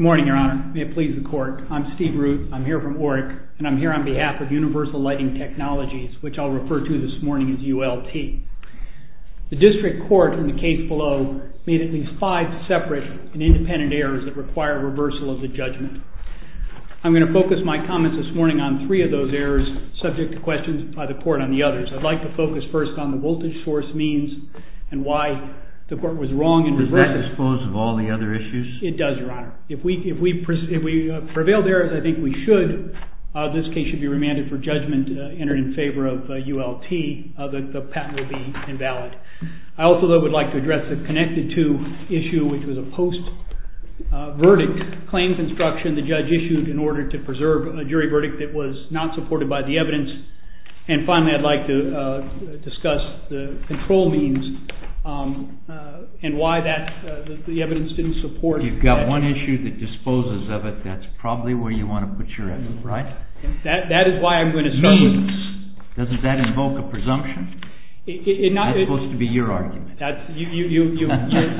Good morning, Your Honor. May it please the Court, I'm Steve Root. I'm here from OREC and I'm here on behalf of Universal Lighting Technologies, which I'll refer to this morning as ULT. The District Court in the case below made at least five separate and independent errors that require reversal of the judgment. I'm going to focus my comments this morning on three of those errors, subject to questions by the Court on the others. I'd like to focus first on the voltage source means and why the Court was wrong in reversing it. JUSTICE KENNEDY Was that disposed of all the other issues? PHILIPS ELECTRON It does, Your Honor. If we prevailed there, as I think we should, this case should be remanded for judgment, entered in favor of ULT. I also, though, would like to address the connected-to issue, which was a post-verdict claims instruction the judge issued in order to preserve a jury verdict that was not supported by the evidence. And finally, I'd like to discuss the control means and why the evidence didn't support that. JUSTICE KENNEDY You've got one issue that disposes of it. That's probably where you want to put your evidence, right? PHILIPS ELECTRON That is why I'm going to start with the means. JUSTICE KENNEDY Doesn't that invoke a presumption? That's supposed to be your argument. PHILIPS ELECTRON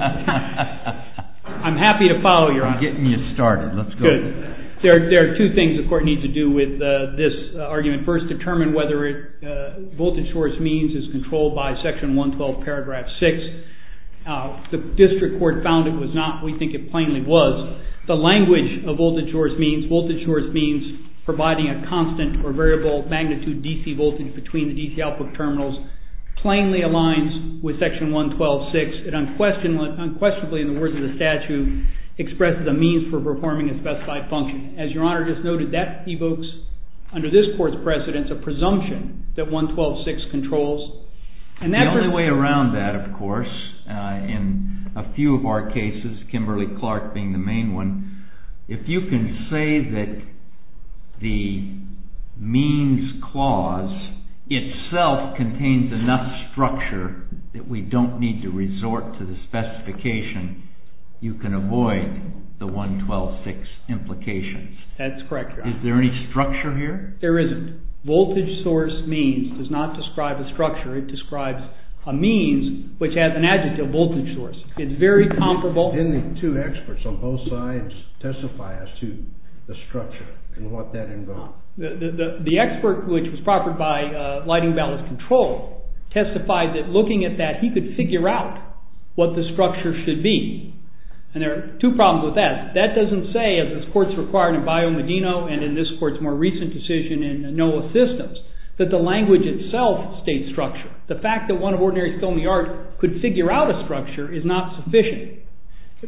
I'm happy to follow your argument. JUSTICE KENNEDY I'm getting you started. Let's go. PHILIPS ELECTRON There are two things the Court needs to do with this argument. First, determine whether voltage source means is controlled by Section 112, Paragraph 6. The District Court found it was not. We think it plainly was. The language of voltage source means, voltage source means providing a constant or variable magnitude DC voltage between the DC output terminals, plainly aligns with Section 112.6. It unquestionably, in the words of the statute, expresses a means for performing a specified function. As Your Honor just noted, that evokes under this Court's precedence a presumption that 112.6 controls. JUSTICE KENNEDY The only way around that, of course, in a few of our cases, Kimberly-Clark being the main one, if you can say that the means clause itself contains enough structure that we don't need to resort to the specification, you can avoid the 112.6 implications. PHILIPS ELECTRON That's correct, Your Honor. JUSTICE KENNEDY Is there any structure here? PHILIPS ELECTRON There isn't. Voltage source means does not describe a structure. It describes a means which has an adjective, voltage source. It's very comparable. JUSTICE KENNEDY Didn't the two experts on both sides testify as to the structure and what that involved? PHILIPS ELECTRON The expert, which was proffered by lighting balance control, testified that looking at that, he could figure out what the structure should be. And there are two problems with that. That doesn't say, as this Court's required in Bio Medino and in this Court's more recent decision in Noah Systems, that the language itself states structure. The fact that one of ordinary Thome art could figure out a structure is not sufficient,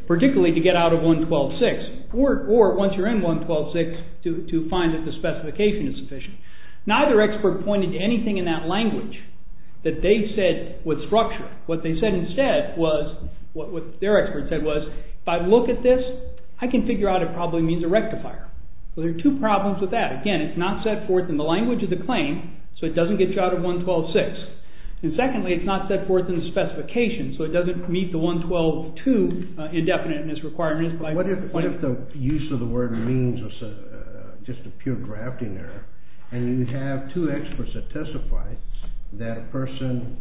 particularly to get out of 112.6, or once you're in 112.6 to find that the specification is sufficient. Neither expert pointed to anything in that language that they said was structure. What they said instead was, what their expert said was, if I look at this, I can figure out it probably means a rectifier. So there are two problems with that. Again, it's not set forth in the language of the claim, so it doesn't get you out of 112.6. And secondly, it's not set forth in the specification, so it doesn't meet the 112.2 indefiniteness requirements. What if the use of the word means was just a pure grafting error, and you have two experts that testify that a person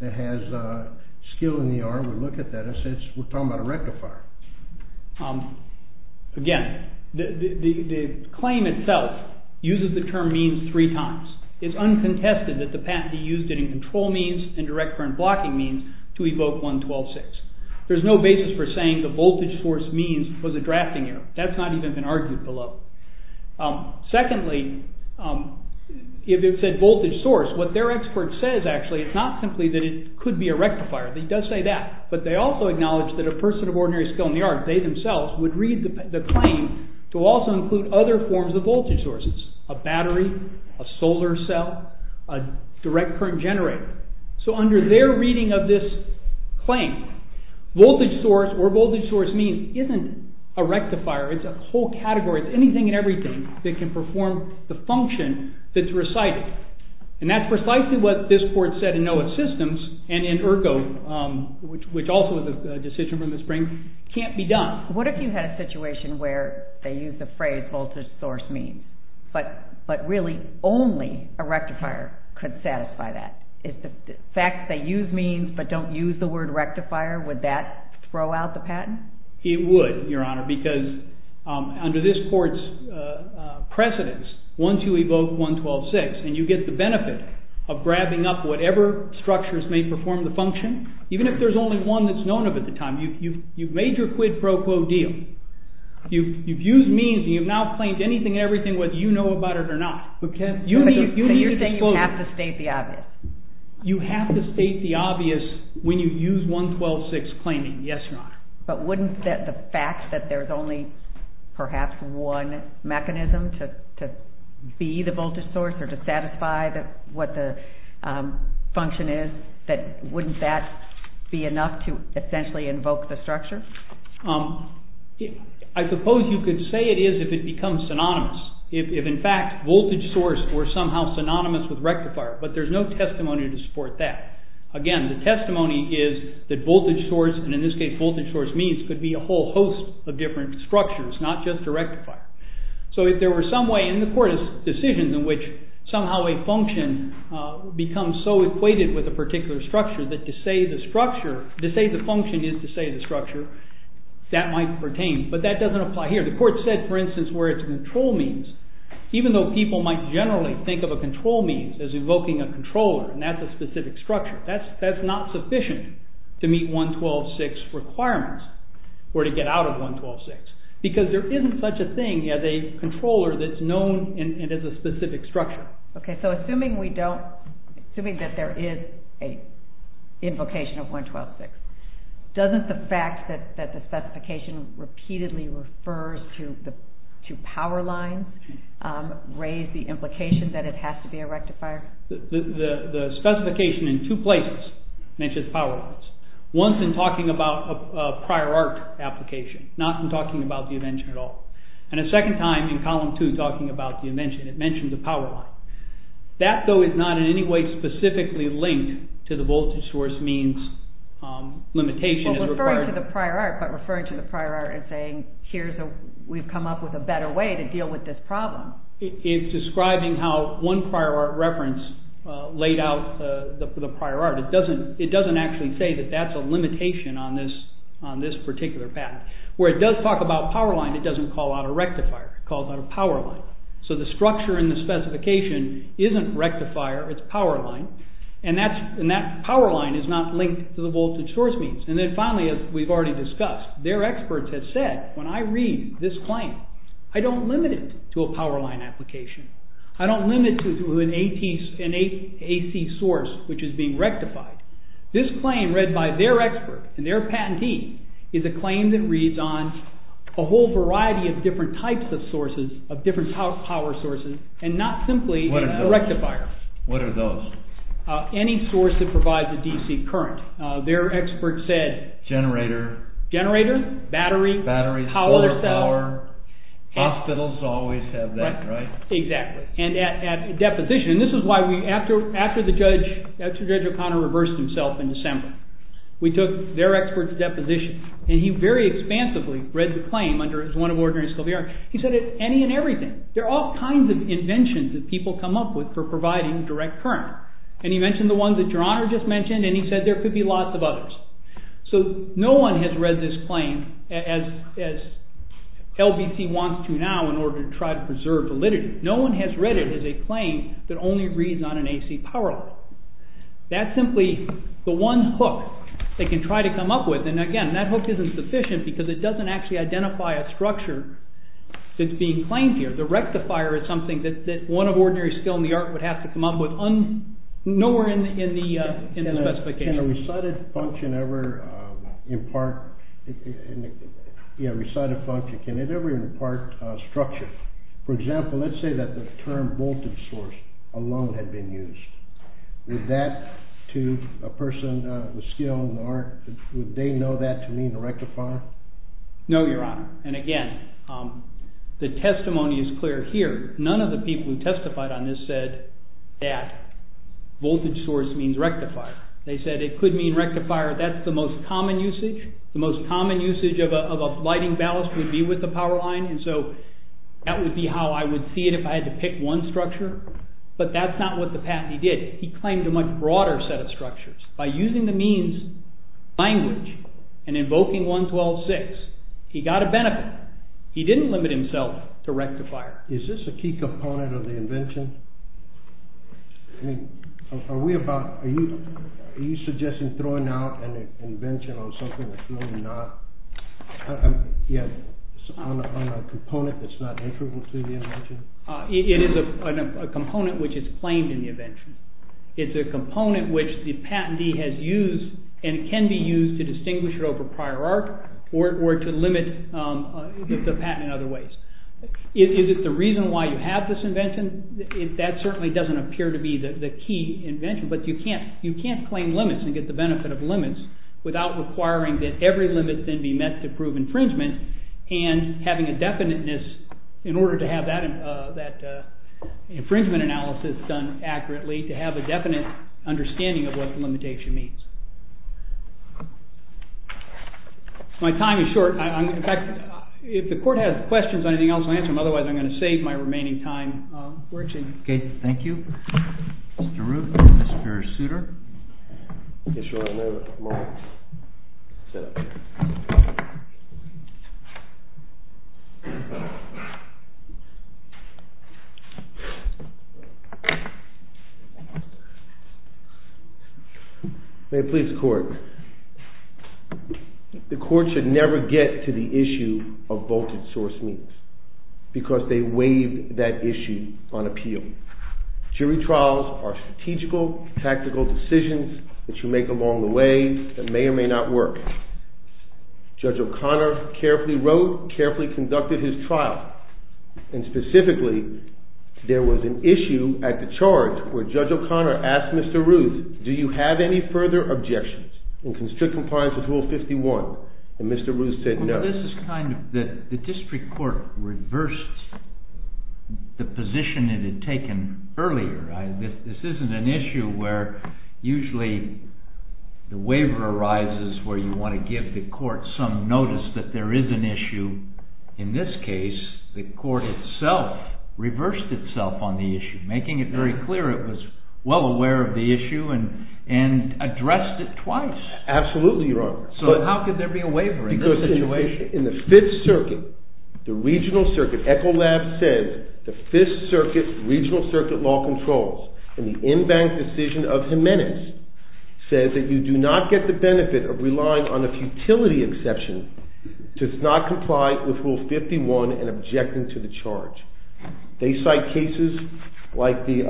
that has skill in the art would look at that and say, we're talking about a rectifier? Again, the claim itself uses the term means three times. It's uncontested that the patentee used it in control means and direct current blocking means to evoke 112.6. There's no basis for saying the voltage source means was a drafting error. That's not even been argued below. Secondly, if it said voltage source, what their expert says actually is not simply that it could be a rectifier. He does say that, but they also acknowledge that a person of ordinary skill in the art, they themselves, would read the claim to also include other forms of voltage sources. A battery, a solar cell, a direct current generator. So under their reading of this claim, voltage source or voltage source means isn't a rectifier. It's a whole category. It's anything and everything that can perform the function that's recited. And that's precisely what this court said in NOAA systems and in ERGO, which also is a decision from the spring, can't be done. What if you had a situation where they use the phrase voltage source means, but really only a rectifier could satisfy that? If in fact they use means but don't use the word rectifier, would that throw out the patent? It would, Your Honor, because under this court's precedence, once you evoke 112.6 and you get the benefit of grabbing up whatever structures may perform the function, even if there's only one that's known of at the time, you've made your quid pro quo deal. You've used means and you've now claimed anything and everything whether you know about it or not. So you're saying you have to state the obvious? You have to state the obvious when you use 112.6 claiming, yes, Your Honor. But wouldn't the fact that there's only perhaps one mechanism to be the voltage source or to satisfy what the function is, wouldn't that be enough to essentially invoke the structure? I suppose you could say it is if it becomes synonymous. If in fact voltage source were somehow synonymous with rectifier, but there's no testimony to support that. Again, the testimony is that voltage source, and in this case voltage source means, could be a whole host of different structures, not just a rectifier. So if there were some way in the court's decision in which somehow a function becomes so equated with a particular structure that to say the function is to say the structure, that might pertain. But that doesn't apply here. The court said, for instance, where it's control means, even though people might generally think of a control means as evoking a controller and that's a specific structure, that's not sufficient to meet 112.6 requirements or to get out of 112.6. Because there isn't such a thing as a controller that's known and has a specific structure. Assuming that there is an invocation of 112.6, doesn't the fact that the specification repeatedly refers to power lines raise the implication that it has to be a rectifier? The specification in two places mentions power lines. Once in talking about a prior art application, not in talking about the invention at all. And a second time in column two talking about the invention, it mentioned the power line. That though is not in any way specifically linked to the voltage source means limitation. Referring to the prior art, but referring to the prior art and saying here's a, we've come up with a better way to deal with this problem. It's describing how one prior art reference laid out the prior art. It doesn't actually say that that's a limitation on this particular patent. Where it does talk about power line, it doesn't call out a rectifier. It calls out a power line. So the structure in the specification isn't rectifier, it's power line. And that power line is not linked to the voltage source means. And then finally, as we've already discussed, their experts have said, when I read this claim, I don't limit it to a power line application. I don't limit it to an AC source which is being rectified. This claim read by their expert and their patentee is a claim that reads on a whole variety of different types of sources, of different power sources, and not simply a rectifier. What are those? Any source that provides a DC current. Their expert said. Generator. Generator, battery, power cell. Batteries, solar power, hospitals always have that, right? Exactly. And at deposition. And this is why after Judge O'Connor reversed himself in December, we took their expert's deposition. And he very expansively read the claim under his one of ordinary school of the arts. He said any and everything. There are all kinds of inventions that people come up with for providing direct current. And he mentioned the ones that Your Honor just mentioned, and he said there could be lots of others. So no one has read this claim as LBC wants to now in order to try to preserve validity. No one has read it as a claim that only reads on an AC power line. That's simply the one hook they can try to come up with. And again, that hook isn't sufficient because it doesn't actually identify a structure that's being claimed here. The rectifier is something that one of ordinary skill in the art would have to come up with. Nowhere in the specification. Can a recited function ever impart structure? For example, let's say that the term voltage source alone had been used. Would that to a person with skill in the art, would they know that to mean a rectifier? No, Your Honor. And again, the testimony is clear here. None of the people who testified on this said that voltage source means rectifier. They said it could mean rectifier. That's the most common usage. The most common usage of a lighting ballast would be with the power line. And so that would be how I would see it if I had to pick one structure. But that's not what the patentee did. He claimed a much broader set of structures. By using the means language and invoking 112.6, he got a benefit. He didn't limit himself to rectifier. Is this a key component of the invention? I mean, are we about, are you suggesting throwing out an invention on something that's really not, on a component that's not integral to the invention? It is a component which is claimed in the invention. It's a component which the patentee has used and can be used to distinguish it over prior art or to limit the patent in other ways. Is it the reason why you have this invention? That certainly doesn't appear to be the key invention, but you can't claim limits and get the benefit of limits without requiring that every limit then be met to prove infringement and having a definiteness in order to have that infringement analysis done accurately to have a definite understanding of what the limitation means. My time is short. In fact, if the court has questions on anything else, I'll answer them. Otherwise, I'm going to save my remaining time for exchange. Okay, thank you. Mr. Root, Mr. Souter. May it please the court. The court should never get to the issue of vaulted-source means because they waive that issue on appeal. Jury trials are strategical, tactical decisions that you make along the way that may or may not work. Judge O'Connor carefully wrote, carefully conducted his trial, and specifically, there was an issue at the charge where Judge O'Connor asked Mr. Root, do you have any further objections in constrict compliance with Rule 51? And Mr. Root said no. Well, this is kind of the district court reversed the position it had taken earlier. This isn't an issue where usually the waiver arises where you want to give the court some notice that there is an issue. In this case, the court itself reversed itself on the issue, making it very clear it was well aware of the issue and addressed it twice. Absolutely, Your Honor. So how could there be a waiver in this situation? Because in the Fifth Circuit, the Regional Circuit, Echolab says, the Fifth Circuit, Regional Circuit Law Controls, in the in-bank decision of Jimenez, says that you do not get the benefit of relying on a futility exception to not comply with Rule 51 and objecting to the charge. They cite cases like the...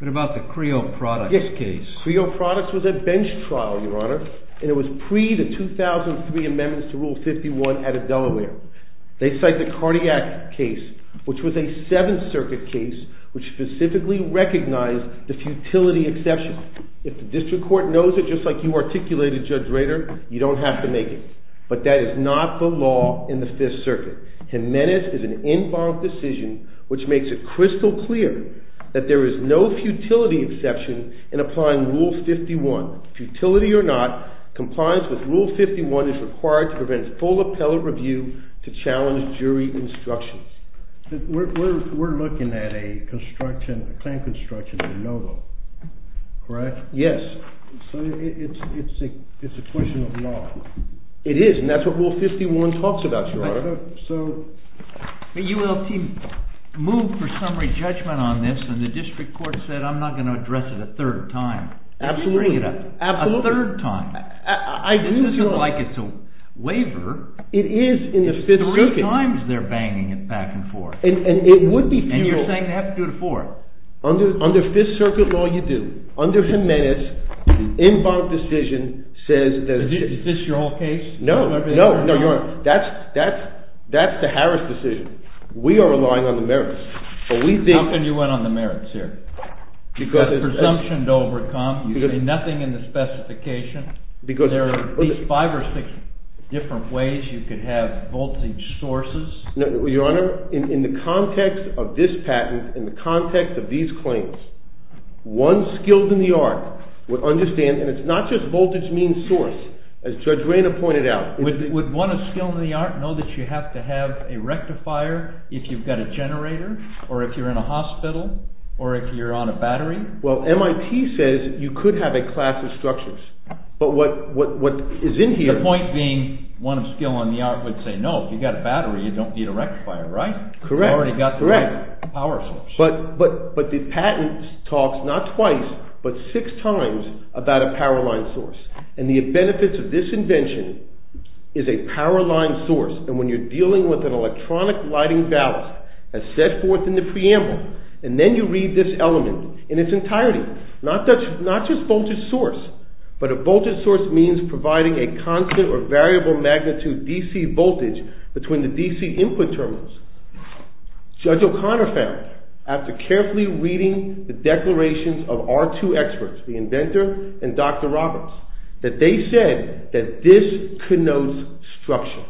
What about the Creo Products case? Yes, Creo Products was a bench trial, Your Honor, and it was pre the 2003 amendments to Rule 51 out of Delaware. They cite the Cardiac case, which was a Seventh Circuit case, which specifically recognized the futility exception. If the district court knows it, just like you articulated, Judge Rader, you don't have to make it. But that is not the law in the Fifth Circuit. Jimenez is an in-bank decision which makes it crystal clear that there is no futility exception in applying Rule 51. Futility or not, compliance with Rule 51 is required to prevent full appellate review to challenge jury instructions. We're looking at a construction, a claim construction, a no-go. Correct? Yes. So it's a question of law. It is, and that's what Rule 51 talks about, Your Honor. The ULT moved for summary judgment on this, and the district court said, I'm not going to address it a third time. Absolutely. A third time. This isn't like it's a waiver. It is in the Fifth Circuit. Three times they're banging it back and forth. And it would be futile. And you're saying you have to do it a fourth. Under Fifth Circuit law, you do. Under Jimenez, the in-bank decision says that... Is this your whole case? No. No, Your Honor. That's the Harris decision. We are relying on the merits. But we think... How can you rely on the merits here? You've got presumption to overcome. You see nothing in the specification. There are at least five or six different ways you could have voltage sources. Your Honor, in the context of this patent, in the context of these claims, one skilled in the art would understand, and it's not just voltage means source, as Judge Rayner pointed out... Would one of skilled in the art know that you have to have a rectifier if you've got a generator, or if you're in a hospital, or if you're on a battery? Well, MIT says you could have a class of structures. But what is in here... The point being, one of skilled in the art would say, no, if you've got a battery, you don't need a rectifier, right? Correct. You've already got the power source. But the patent talks, not twice, but six times about a power line source. And the benefits of this invention is a power line source, and when you're dealing with an electronic lighting ballast as set forth in the preamble, and then you read this element in its entirety, not just voltage source, but a voltage source means providing a constant or variable magnitude DC voltage between the DC input terminals. Judge O'Connor found, after carefully reading the declarations of our two experts, the inventor and Dr. Roberts, that they said that this connotes structure,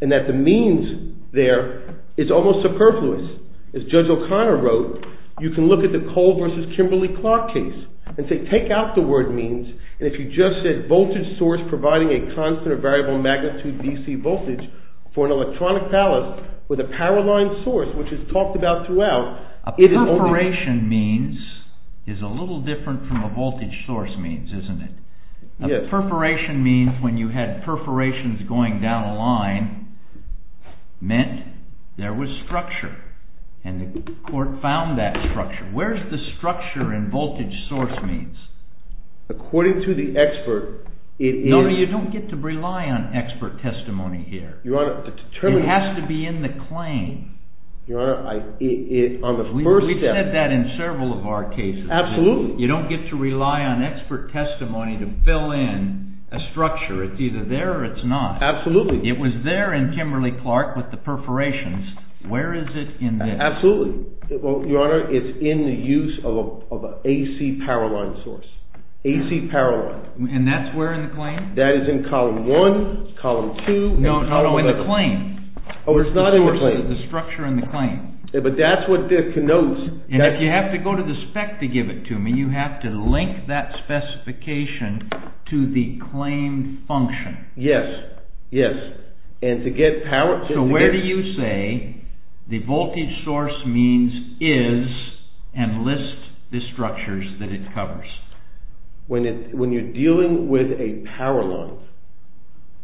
and that the means there is almost superfluous. As Judge O'Connor wrote, you can look at the Cole versus Kimberly-Clark case and say, take out the word means, and if you just said voltage source providing a constant or variable magnitude DC voltage for an electronic ballast with a power line source, which is talked about throughout... A perforation means is a little different from a voltage source means, isn't it? A perforation means, when you had perforations going down a line, meant there was structure, and the court found that structure. Where's the structure in voltage source means? According to the expert, it is... No, you don't get to rely on expert testimony here. Your Honor, the term... It has to be in the claim. Your Honor, on the first step... We've said that in several of our cases. Absolutely. You don't get to rely on expert testimony to fill in a structure. It's either there or it's not. Absolutely. It was there in Kimberly-Clark with the perforations. Where is it in this? Absolutely. Your Honor, it's in the use of an AC power line source. AC power line. And that's where in the claim? That is in column one, column two... No, no, no, in the claim. Oh, it's not in the claim. The structure in the claim. But that's what denotes... And if you have to go to the spec to give it to me, you have to link that specification to the claim function. Yes, yes. And to get power... So where do you say the voltage source means is and list the structures that it covers? When you're dealing with a power line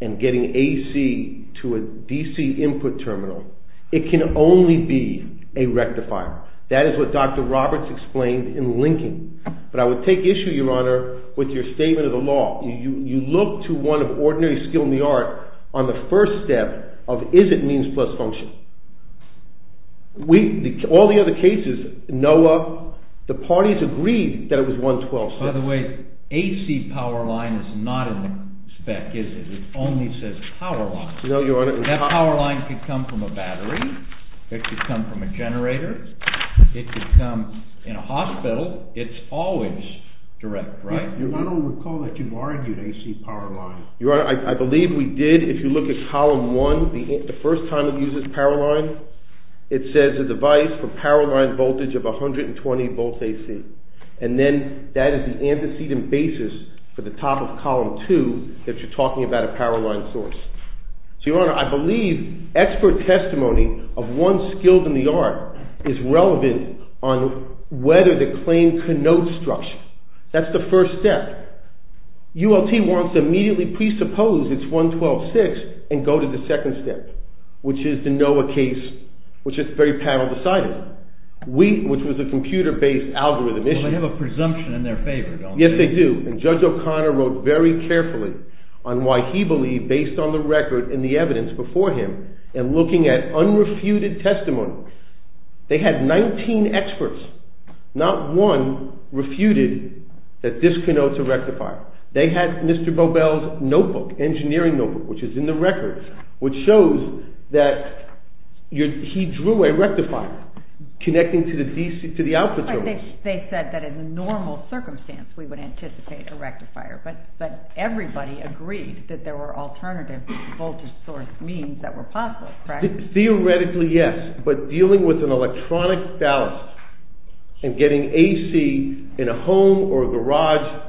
and getting AC to a DC input terminal, it can only be a rectifier. That is what Dr. Roberts explained in linking. But I would take issue, Your Honor, with your statement of the law. You look to one of ordinary skill in the art on the first step of is it means plus function. All the other cases, NOAA, the parties agreed that it was 112. By the way, AC power line is not in the spec, is it? It only says power line. No, Your Honor. That power line could come from a battery. It could come from a generator. It could come in a hospital. It's always direct, right? I don't recall that you've argued AC power line. Your Honor, I believe we did. If you look at column one, the first time it uses power line, it says a device for power line voltage of 120 volts AC. And then that is the antecedent basis for the top of column two that you're talking about a power line source. So, Your Honor, I believe expert testimony of one skilled in the art is relevant on whether the claim connotes structure. That's the first step. ULT wants to immediately presuppose it's 112.6 and go to the second step, which is the NOAA case, which is very panel-decided, which was a computer-based algorithm issue. Well, they have a presumption in their favor, don't they? Yes, they do. And Judge O'Connor wrote very carefully on why he believed, based on the record and the evidence before him, and looking at unrefuted testimony. They had 19 experts. Not one refuted that this connotes a rectifier. They had Mr. Bobel's notebook, engineering notebook, which is in the record, which shows that he drew a rectifier connecting to the output source. They said that in a normal circumstance, we would anticipate a rectifier. But everybody agreed that there were alternative voltage source means that were possible, correct? Theoretically, yes. But dealing with an electronic ballast and getting AC in a home or a garage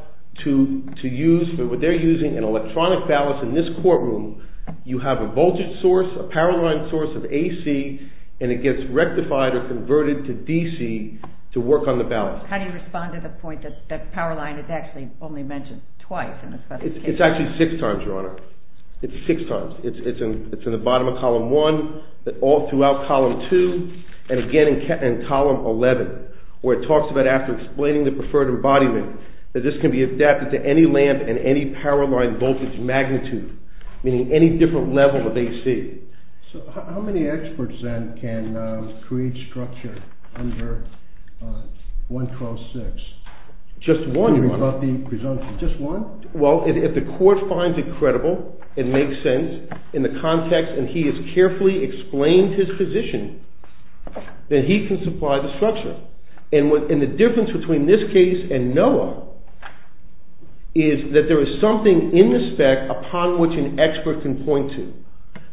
to use, they're using an electronic ballast in this courtroom, you have a voltage source, a power line source of AC, and it gets rectified or converted to DC to work on the ballast. How do you respond to the point that power line is actually only mentioned twice? It's actually six times, Your Honor. It's six times. It's in the bottom of column one, all throughout column two, and again in column 11, where it talks about after explaining the preferred embodiment, that this can be adapted to any lamp and any power line voltage magnitude, meaning any different level of AC. So how many experts then can create structure under 1 cross 6? Just one, Your Honor. Just one? Well, if the court finds it credible, it makes sense in the context, and he has carefully explained his position, then he can supply the structure. And the difference between this case and NOAA is that there is something in the spec upon which an expert can point to.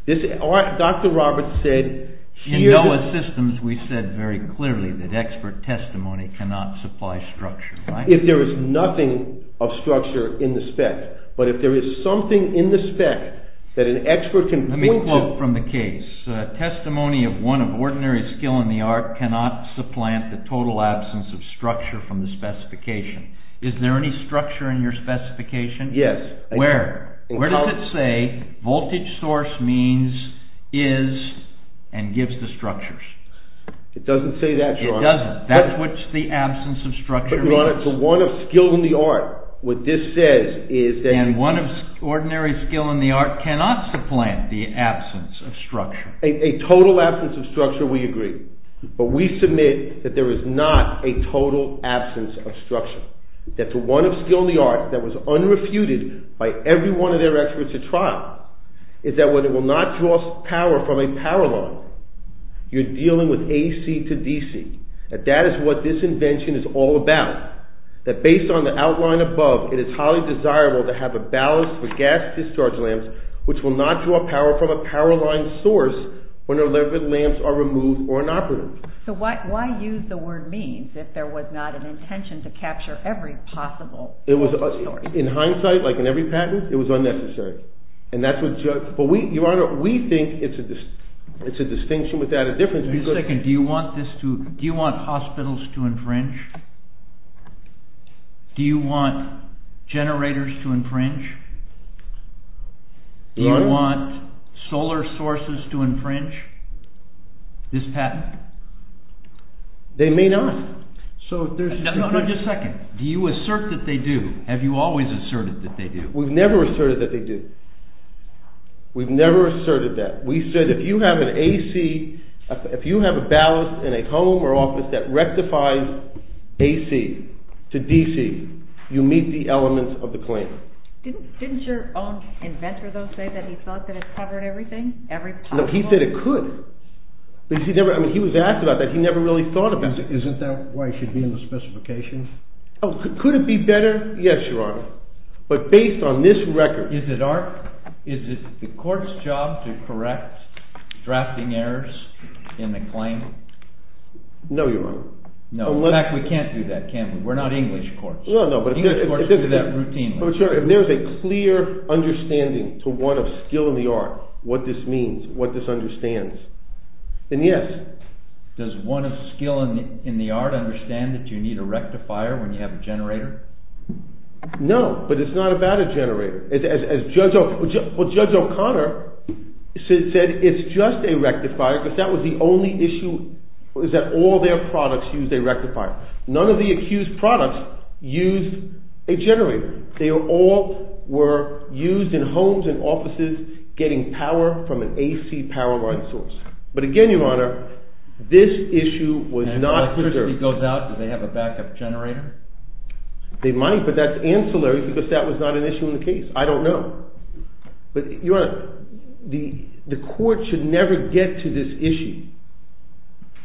Dr. Roberts said... In NOAA systems, we said very clearly that expert testimony cannot supply structure. If there is nothing of structure in the spec, but if there is something in the spec that an expert can point to... Let me quote from the case. Testimony of one of ordinary skill in the art cannot supplant the total absence of structure from the specification. Is there any structure in your specification? Yes. Where? Where does it say voltage source means is and gives the structures? It doesn't say that, Your Honor. It doesn't. That's what the absence of structure means. But, Your Honor, to one of skill in the art, what this says is that... And one of ordinary skill in the art cannot supplant the absence of structure. A total absence of structure, we agree. But we submit that there is not a total absence of structure. That to one of skill in the art that was unrefuted by every one of their experts at trial is that when it will not draw power from a power line, you're dealing with AC to DC. That that is what this invention is all about. That based on the outline above, it is highly desirable to have a ballast for gas discharge lamps which will not draw power from a power line source when their levered lamps are removed or inoperative. So why use the word means if there was not an intention to capture every possible... In hindsight, like in every patent, it was unnecessary. And that's what... But, Your Honor, we think it's a distinction without a difference because... Wait a second. Do you want hospitals to infringe? Do you want generators to infringe? Do you want solar sources to infringe? This patent? They may not. No, no, just a second. Do you assert that they do? Have you always asserted that they do? We've never asserted that they do. We've never asserted that. We said if you have an AC... If you have a ballast in a home or office that rectifies AC to DC, you meet the elements of the claim. Didn't your own inventor, though, say that he thought that it covered everything? No, he said it could. He was asked about that. He never really thought about it. Isn't that why it should be in the specification? Could it be better? Yes, Your Honor. But based on this record... Is it the court's job to correct drafting errors in the claim? No, Your Honor. In fact, we can't do that, can we? We're not English courts. English courts do that routinely. If there's a clear understanding to one of skill in the art, what this means, what this understands, then yes. Does one of skill in the art understand that you need a rectifier when you have a generator? No, but it's not about a generator. As Judge O'Connor said, it's just a rectifier because that was the only issue was that all their products used a rectifier. None of the accused products used a generator. They all were used in homes and offices getting power from an AC power line source. But again, Your Honor, this issue was not... And electricity goes out, do they have a backup generator? They might, but that's ancillary because that was not an issue in the case. I don't know. But, Your Honor, the court should never get to this issue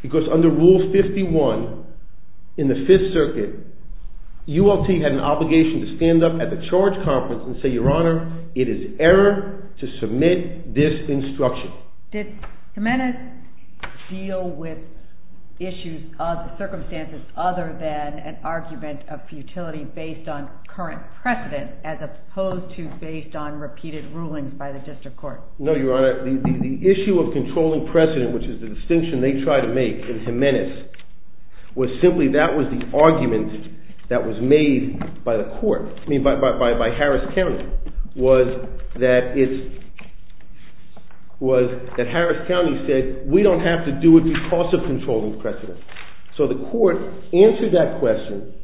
because under Rule 51 in the Fifth Circuit, ULT had an obligation to stand up at the charge conference and say, Your Honor, it is error to submit this instruction. Did Jimenez deal with issues, circumstances other than an argument of futility based on current precedent as opposed to based on repeated rulings by the district court? No, Your Honor. The issue of controlling precedent, which is the distinction they try to make in Jimenez, was simply that was the argument that was made by the court, by Harris County, was that Harris County said, we don't have to do it because of controlling precedent. So the court answered that question,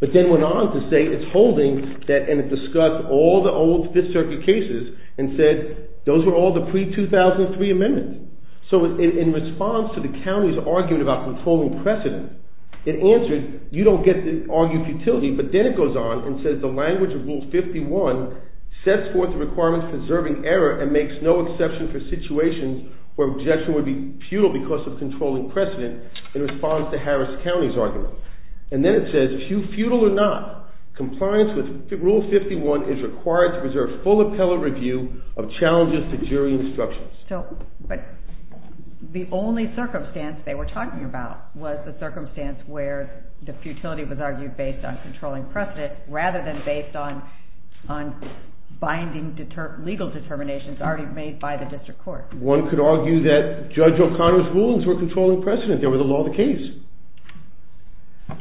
but then went on to say it's holding, and it discussed all the old Fifth Circuit cases and said those were all the pre-2003 amendments. So in response to the county's argument about controlling precedent, it answered, you don't get to argue futility, but then it goes on and says the language of Rule 51 sets forth the requirements preserving error and makes no exception for situations where objection would be futile because of controlling precedent in response to Harris County's argument. And then it says, futile or not, compliance with Rule 51 is required to preserve full appellate review of challenges to jury instructions. But the only circumstance they were talking about was the circumstance where the futility was argued based on controlling precedent rather than based on binding legal determinations already made by the district court. One could argue that Judge O'Connor's rulings were controlling precedent. They were the law of the case.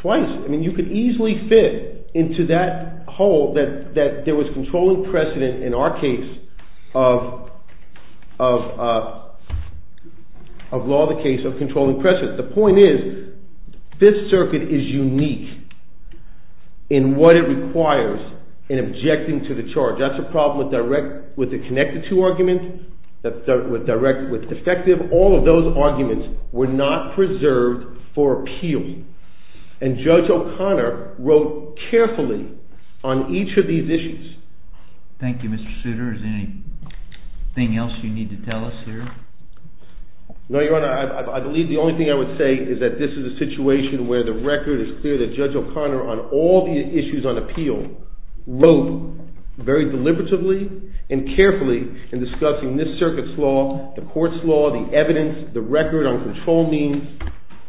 Twice. You could easily fit into that hole that there was controlling precedent in our case of law of the case of controlling precedent. The point is, Fifth Circuit is unique in what it requires in objecting to the charge. That's a problem with the connected to argument, with defective. All of those arguments were not preserved for appeal. And Judge O'Connor wrote carefully on each of these issues. Thank you, Mr. Souter. Is there anything else you need to tell us here? No, Your Honor. I believe the only thing I would say is that this is a situation where the record is clear that Judge O'Connor, on all the issues on appeal, wrote very deliberatively and carefully in discussing this circuit's law, the court's law, the evidence, the record on control means,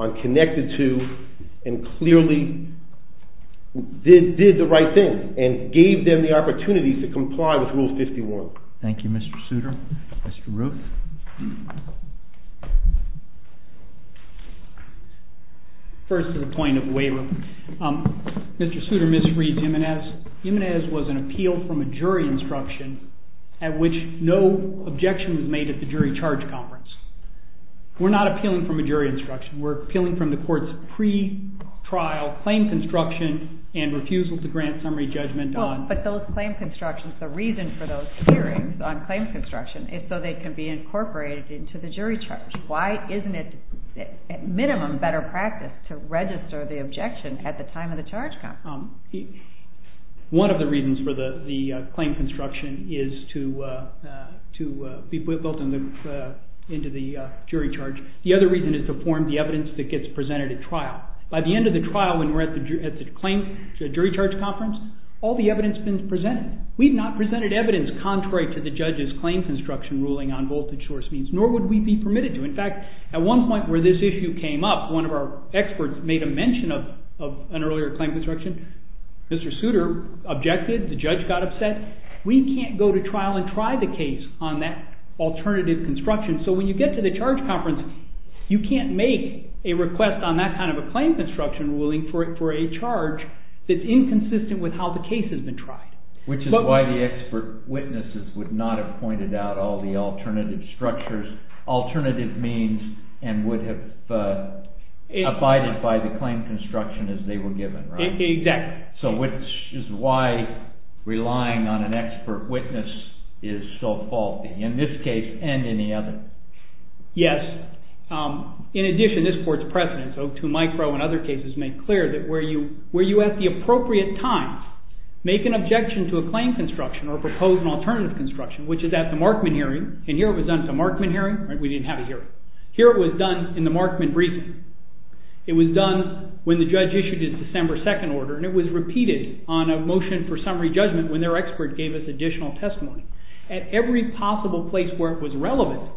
on connected to, and clearly did the right thing and gave them the opportunity to comply with Rule 51. Thank you, Mr. Souter. Mr. Ruth. First, to the point of waiver. Mr. Souter misreads Jimenez. Jimenez was an appeal from a jury instruction at which no objection was made at the jury charge conference. We're not appealing from a jury instruction. We're appealing from the court's pre-trial claim construction and refusal to grant summary judgment on... But those claim constructions, the reason for those hearings on claim construction is so they can be incorporated into the jury charge. Why isn't it, at minimum, better practice to register the objection at the time of the charge conference? One of the reasons for the claim construction is to be built into the jury charge. The other reason is to form the evidence that gets presented at trial. By the end of the trial, when we're at the jury charge conference, all the evidence has been presented. We've not presented evidence contrary to the judge's claim construction ruling on voltage source means, nor would we be permitted to. In fact, at one point where this issue came up, one of our experts made a mention of an earlier claim construction. Mr. Souter objected, the judge got upset. We can't go to trial and try the case on that alternative construction. So when you get to the charge conference, you can't make a request on that kind of a claim construction ruling for a charge that's inconsistent with how the case has been tried. Which is why the expert witnesses would not have pointed out all the alternative structures, alternative means, and would have abided by the claim construction as they were given, right? Exactly. So which is why relying on an expert witness is so faulty, in this case and any other. Yes. In addition, this court's precedent, so to Mike Rowe and other cases, made clear that where you, where you at the appropriate time make an objection to a claim construction or propose an alternative construction, which is at the Markman hearing, and here it was done at the Markman hearing, right, we didn't have a hearing. Here it was done in the Markman briefing. It was done when the judge issued its December 2nd order, and it was repeated on a motion for summary judgment when their expert gave us additional testimony. At every possible place where it was relevant,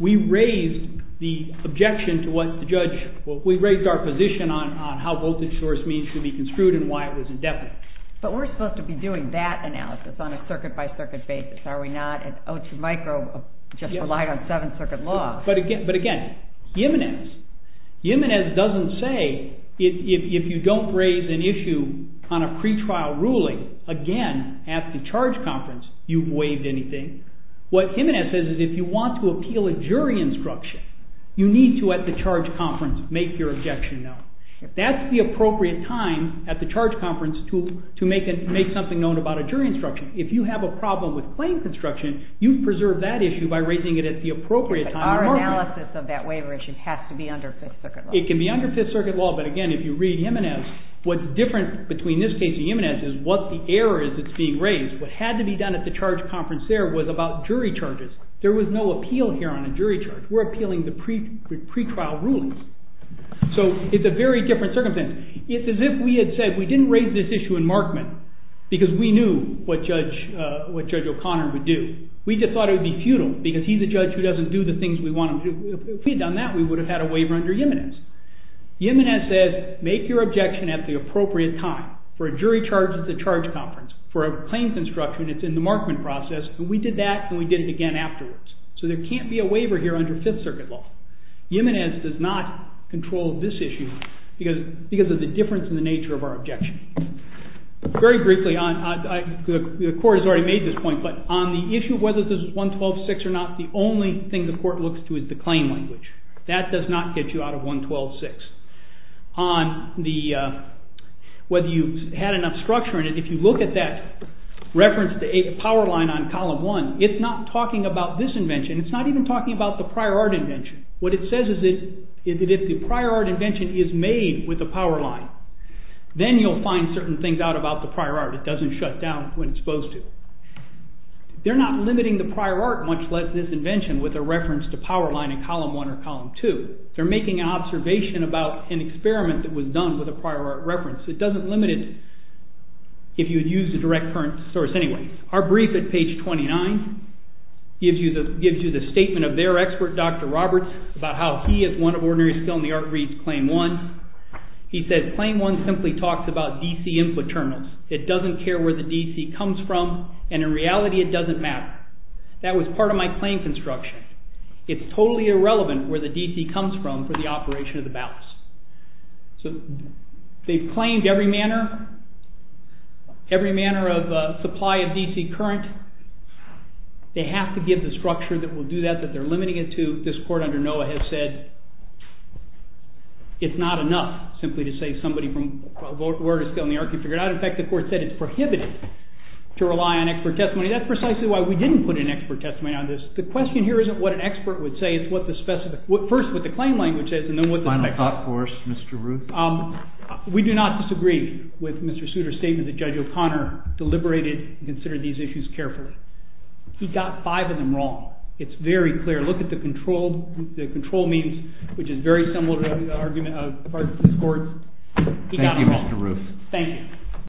we raised the objection to what the judge, well, we raised our position on how voted source means to be construed and why it was indefinite. But we're supposed to be doing that analysis on a circuit-by-circuit basis, are we not? And oh, Mike Rowe just relied on 7th Circuit law. But again, Jimenez, Jimenez doesn't say if you don't raise an issue on a pretrial ruling, again, at the charge conference, you've waived anything. What Jimenez says is if you want to appeal a jury instruction, you need to, at the charge conference, make your objection known. That's the appropriate time at the charge conference to make something known about a jury instruction. If you have a problem with claim construction, you preserve that issue by raising it at the appropriate time on Markman. Our analysis of that waiver issue has to be under 5th Circuit law. It can be under 5th Circuit law, but again, if you read Jimenez, what's different between this case and Jimenez is what the error is that's being raised. What had to be done at the charge conference there was about jury charges. There was no appeal here on a jury charge. We're appealing the pretrial rulings. So it's a very different circumstance. It's as if we had said we didn't raise this issue in Markman because we knew what Judge O'Connor would do. We just thought it would be futile because he's a judge who doesn't do the things we want him to do. If we had done that, we would have had a waiver under Jimenez. Jimenez says make your objection at the appropriate time. For a jury charge at the charge conference, for a claim construction, it's in the Markman process, and we did that and we did it again afterwards. So there can't be a waiver here under 5th Circuit law. Jimenez does not control this issue because of the difference in the nature of our objection. Very briefly, the court has already made this point, but on the issue of whether this is 112.6 or not, the only thing the court looks to is the claim language. That does not get you out of 112.6. Whether you had enough structure in it, if you look at that reference to a power line on column 1, it's not talking about this invention. It's not even talking about the prior art invention. What it says is that if the prior art invention is made with a power line, then you'll find certain things out about the prior art. It doesn't shut down when it's supposed to. They're not limiting the prior art, much less this invention, with a reference to power line in column 1 or column 2. They're making an observation about an experiment that was done with a prior art reference. It doesn't limit it, if you'd use the direct current source anyway. Our brief at page 29 gives you the statement of their expert, Dr. Roberts, about how he, as one of ordinary skill in the art, reads Claim 1. He says, Claim 1 simply talks about DC input terminals. It doesn't care where the DC comes from, and in reality it doesn't matter. That was part of my claim construction. It's totally irrelevant where the DC comes from for the operation of the ballast. They've claimed every manner of supply of DC current. They have to give the structure that will do that, that they're limiting it to. This court under Noah has said it's not enough simply to say somebody from a world of skill in the art can figure it out. In fact, the court said it's prohibited to rely on expert testimony. That's precisely why we didn't put an expert testimony on this. The question here isn't what an expert would say, it's first what the claim language is. Final thought for us, Mr. Ruth. We do not disagree with Mr. Souter's statement that Judge O'Connor deliberated and considered these issues carefully. He got five of them wrong. It's very clear. Look at the control means, which is very similar to the argument of the court. Thank you, Mr. Ruth. Thank you.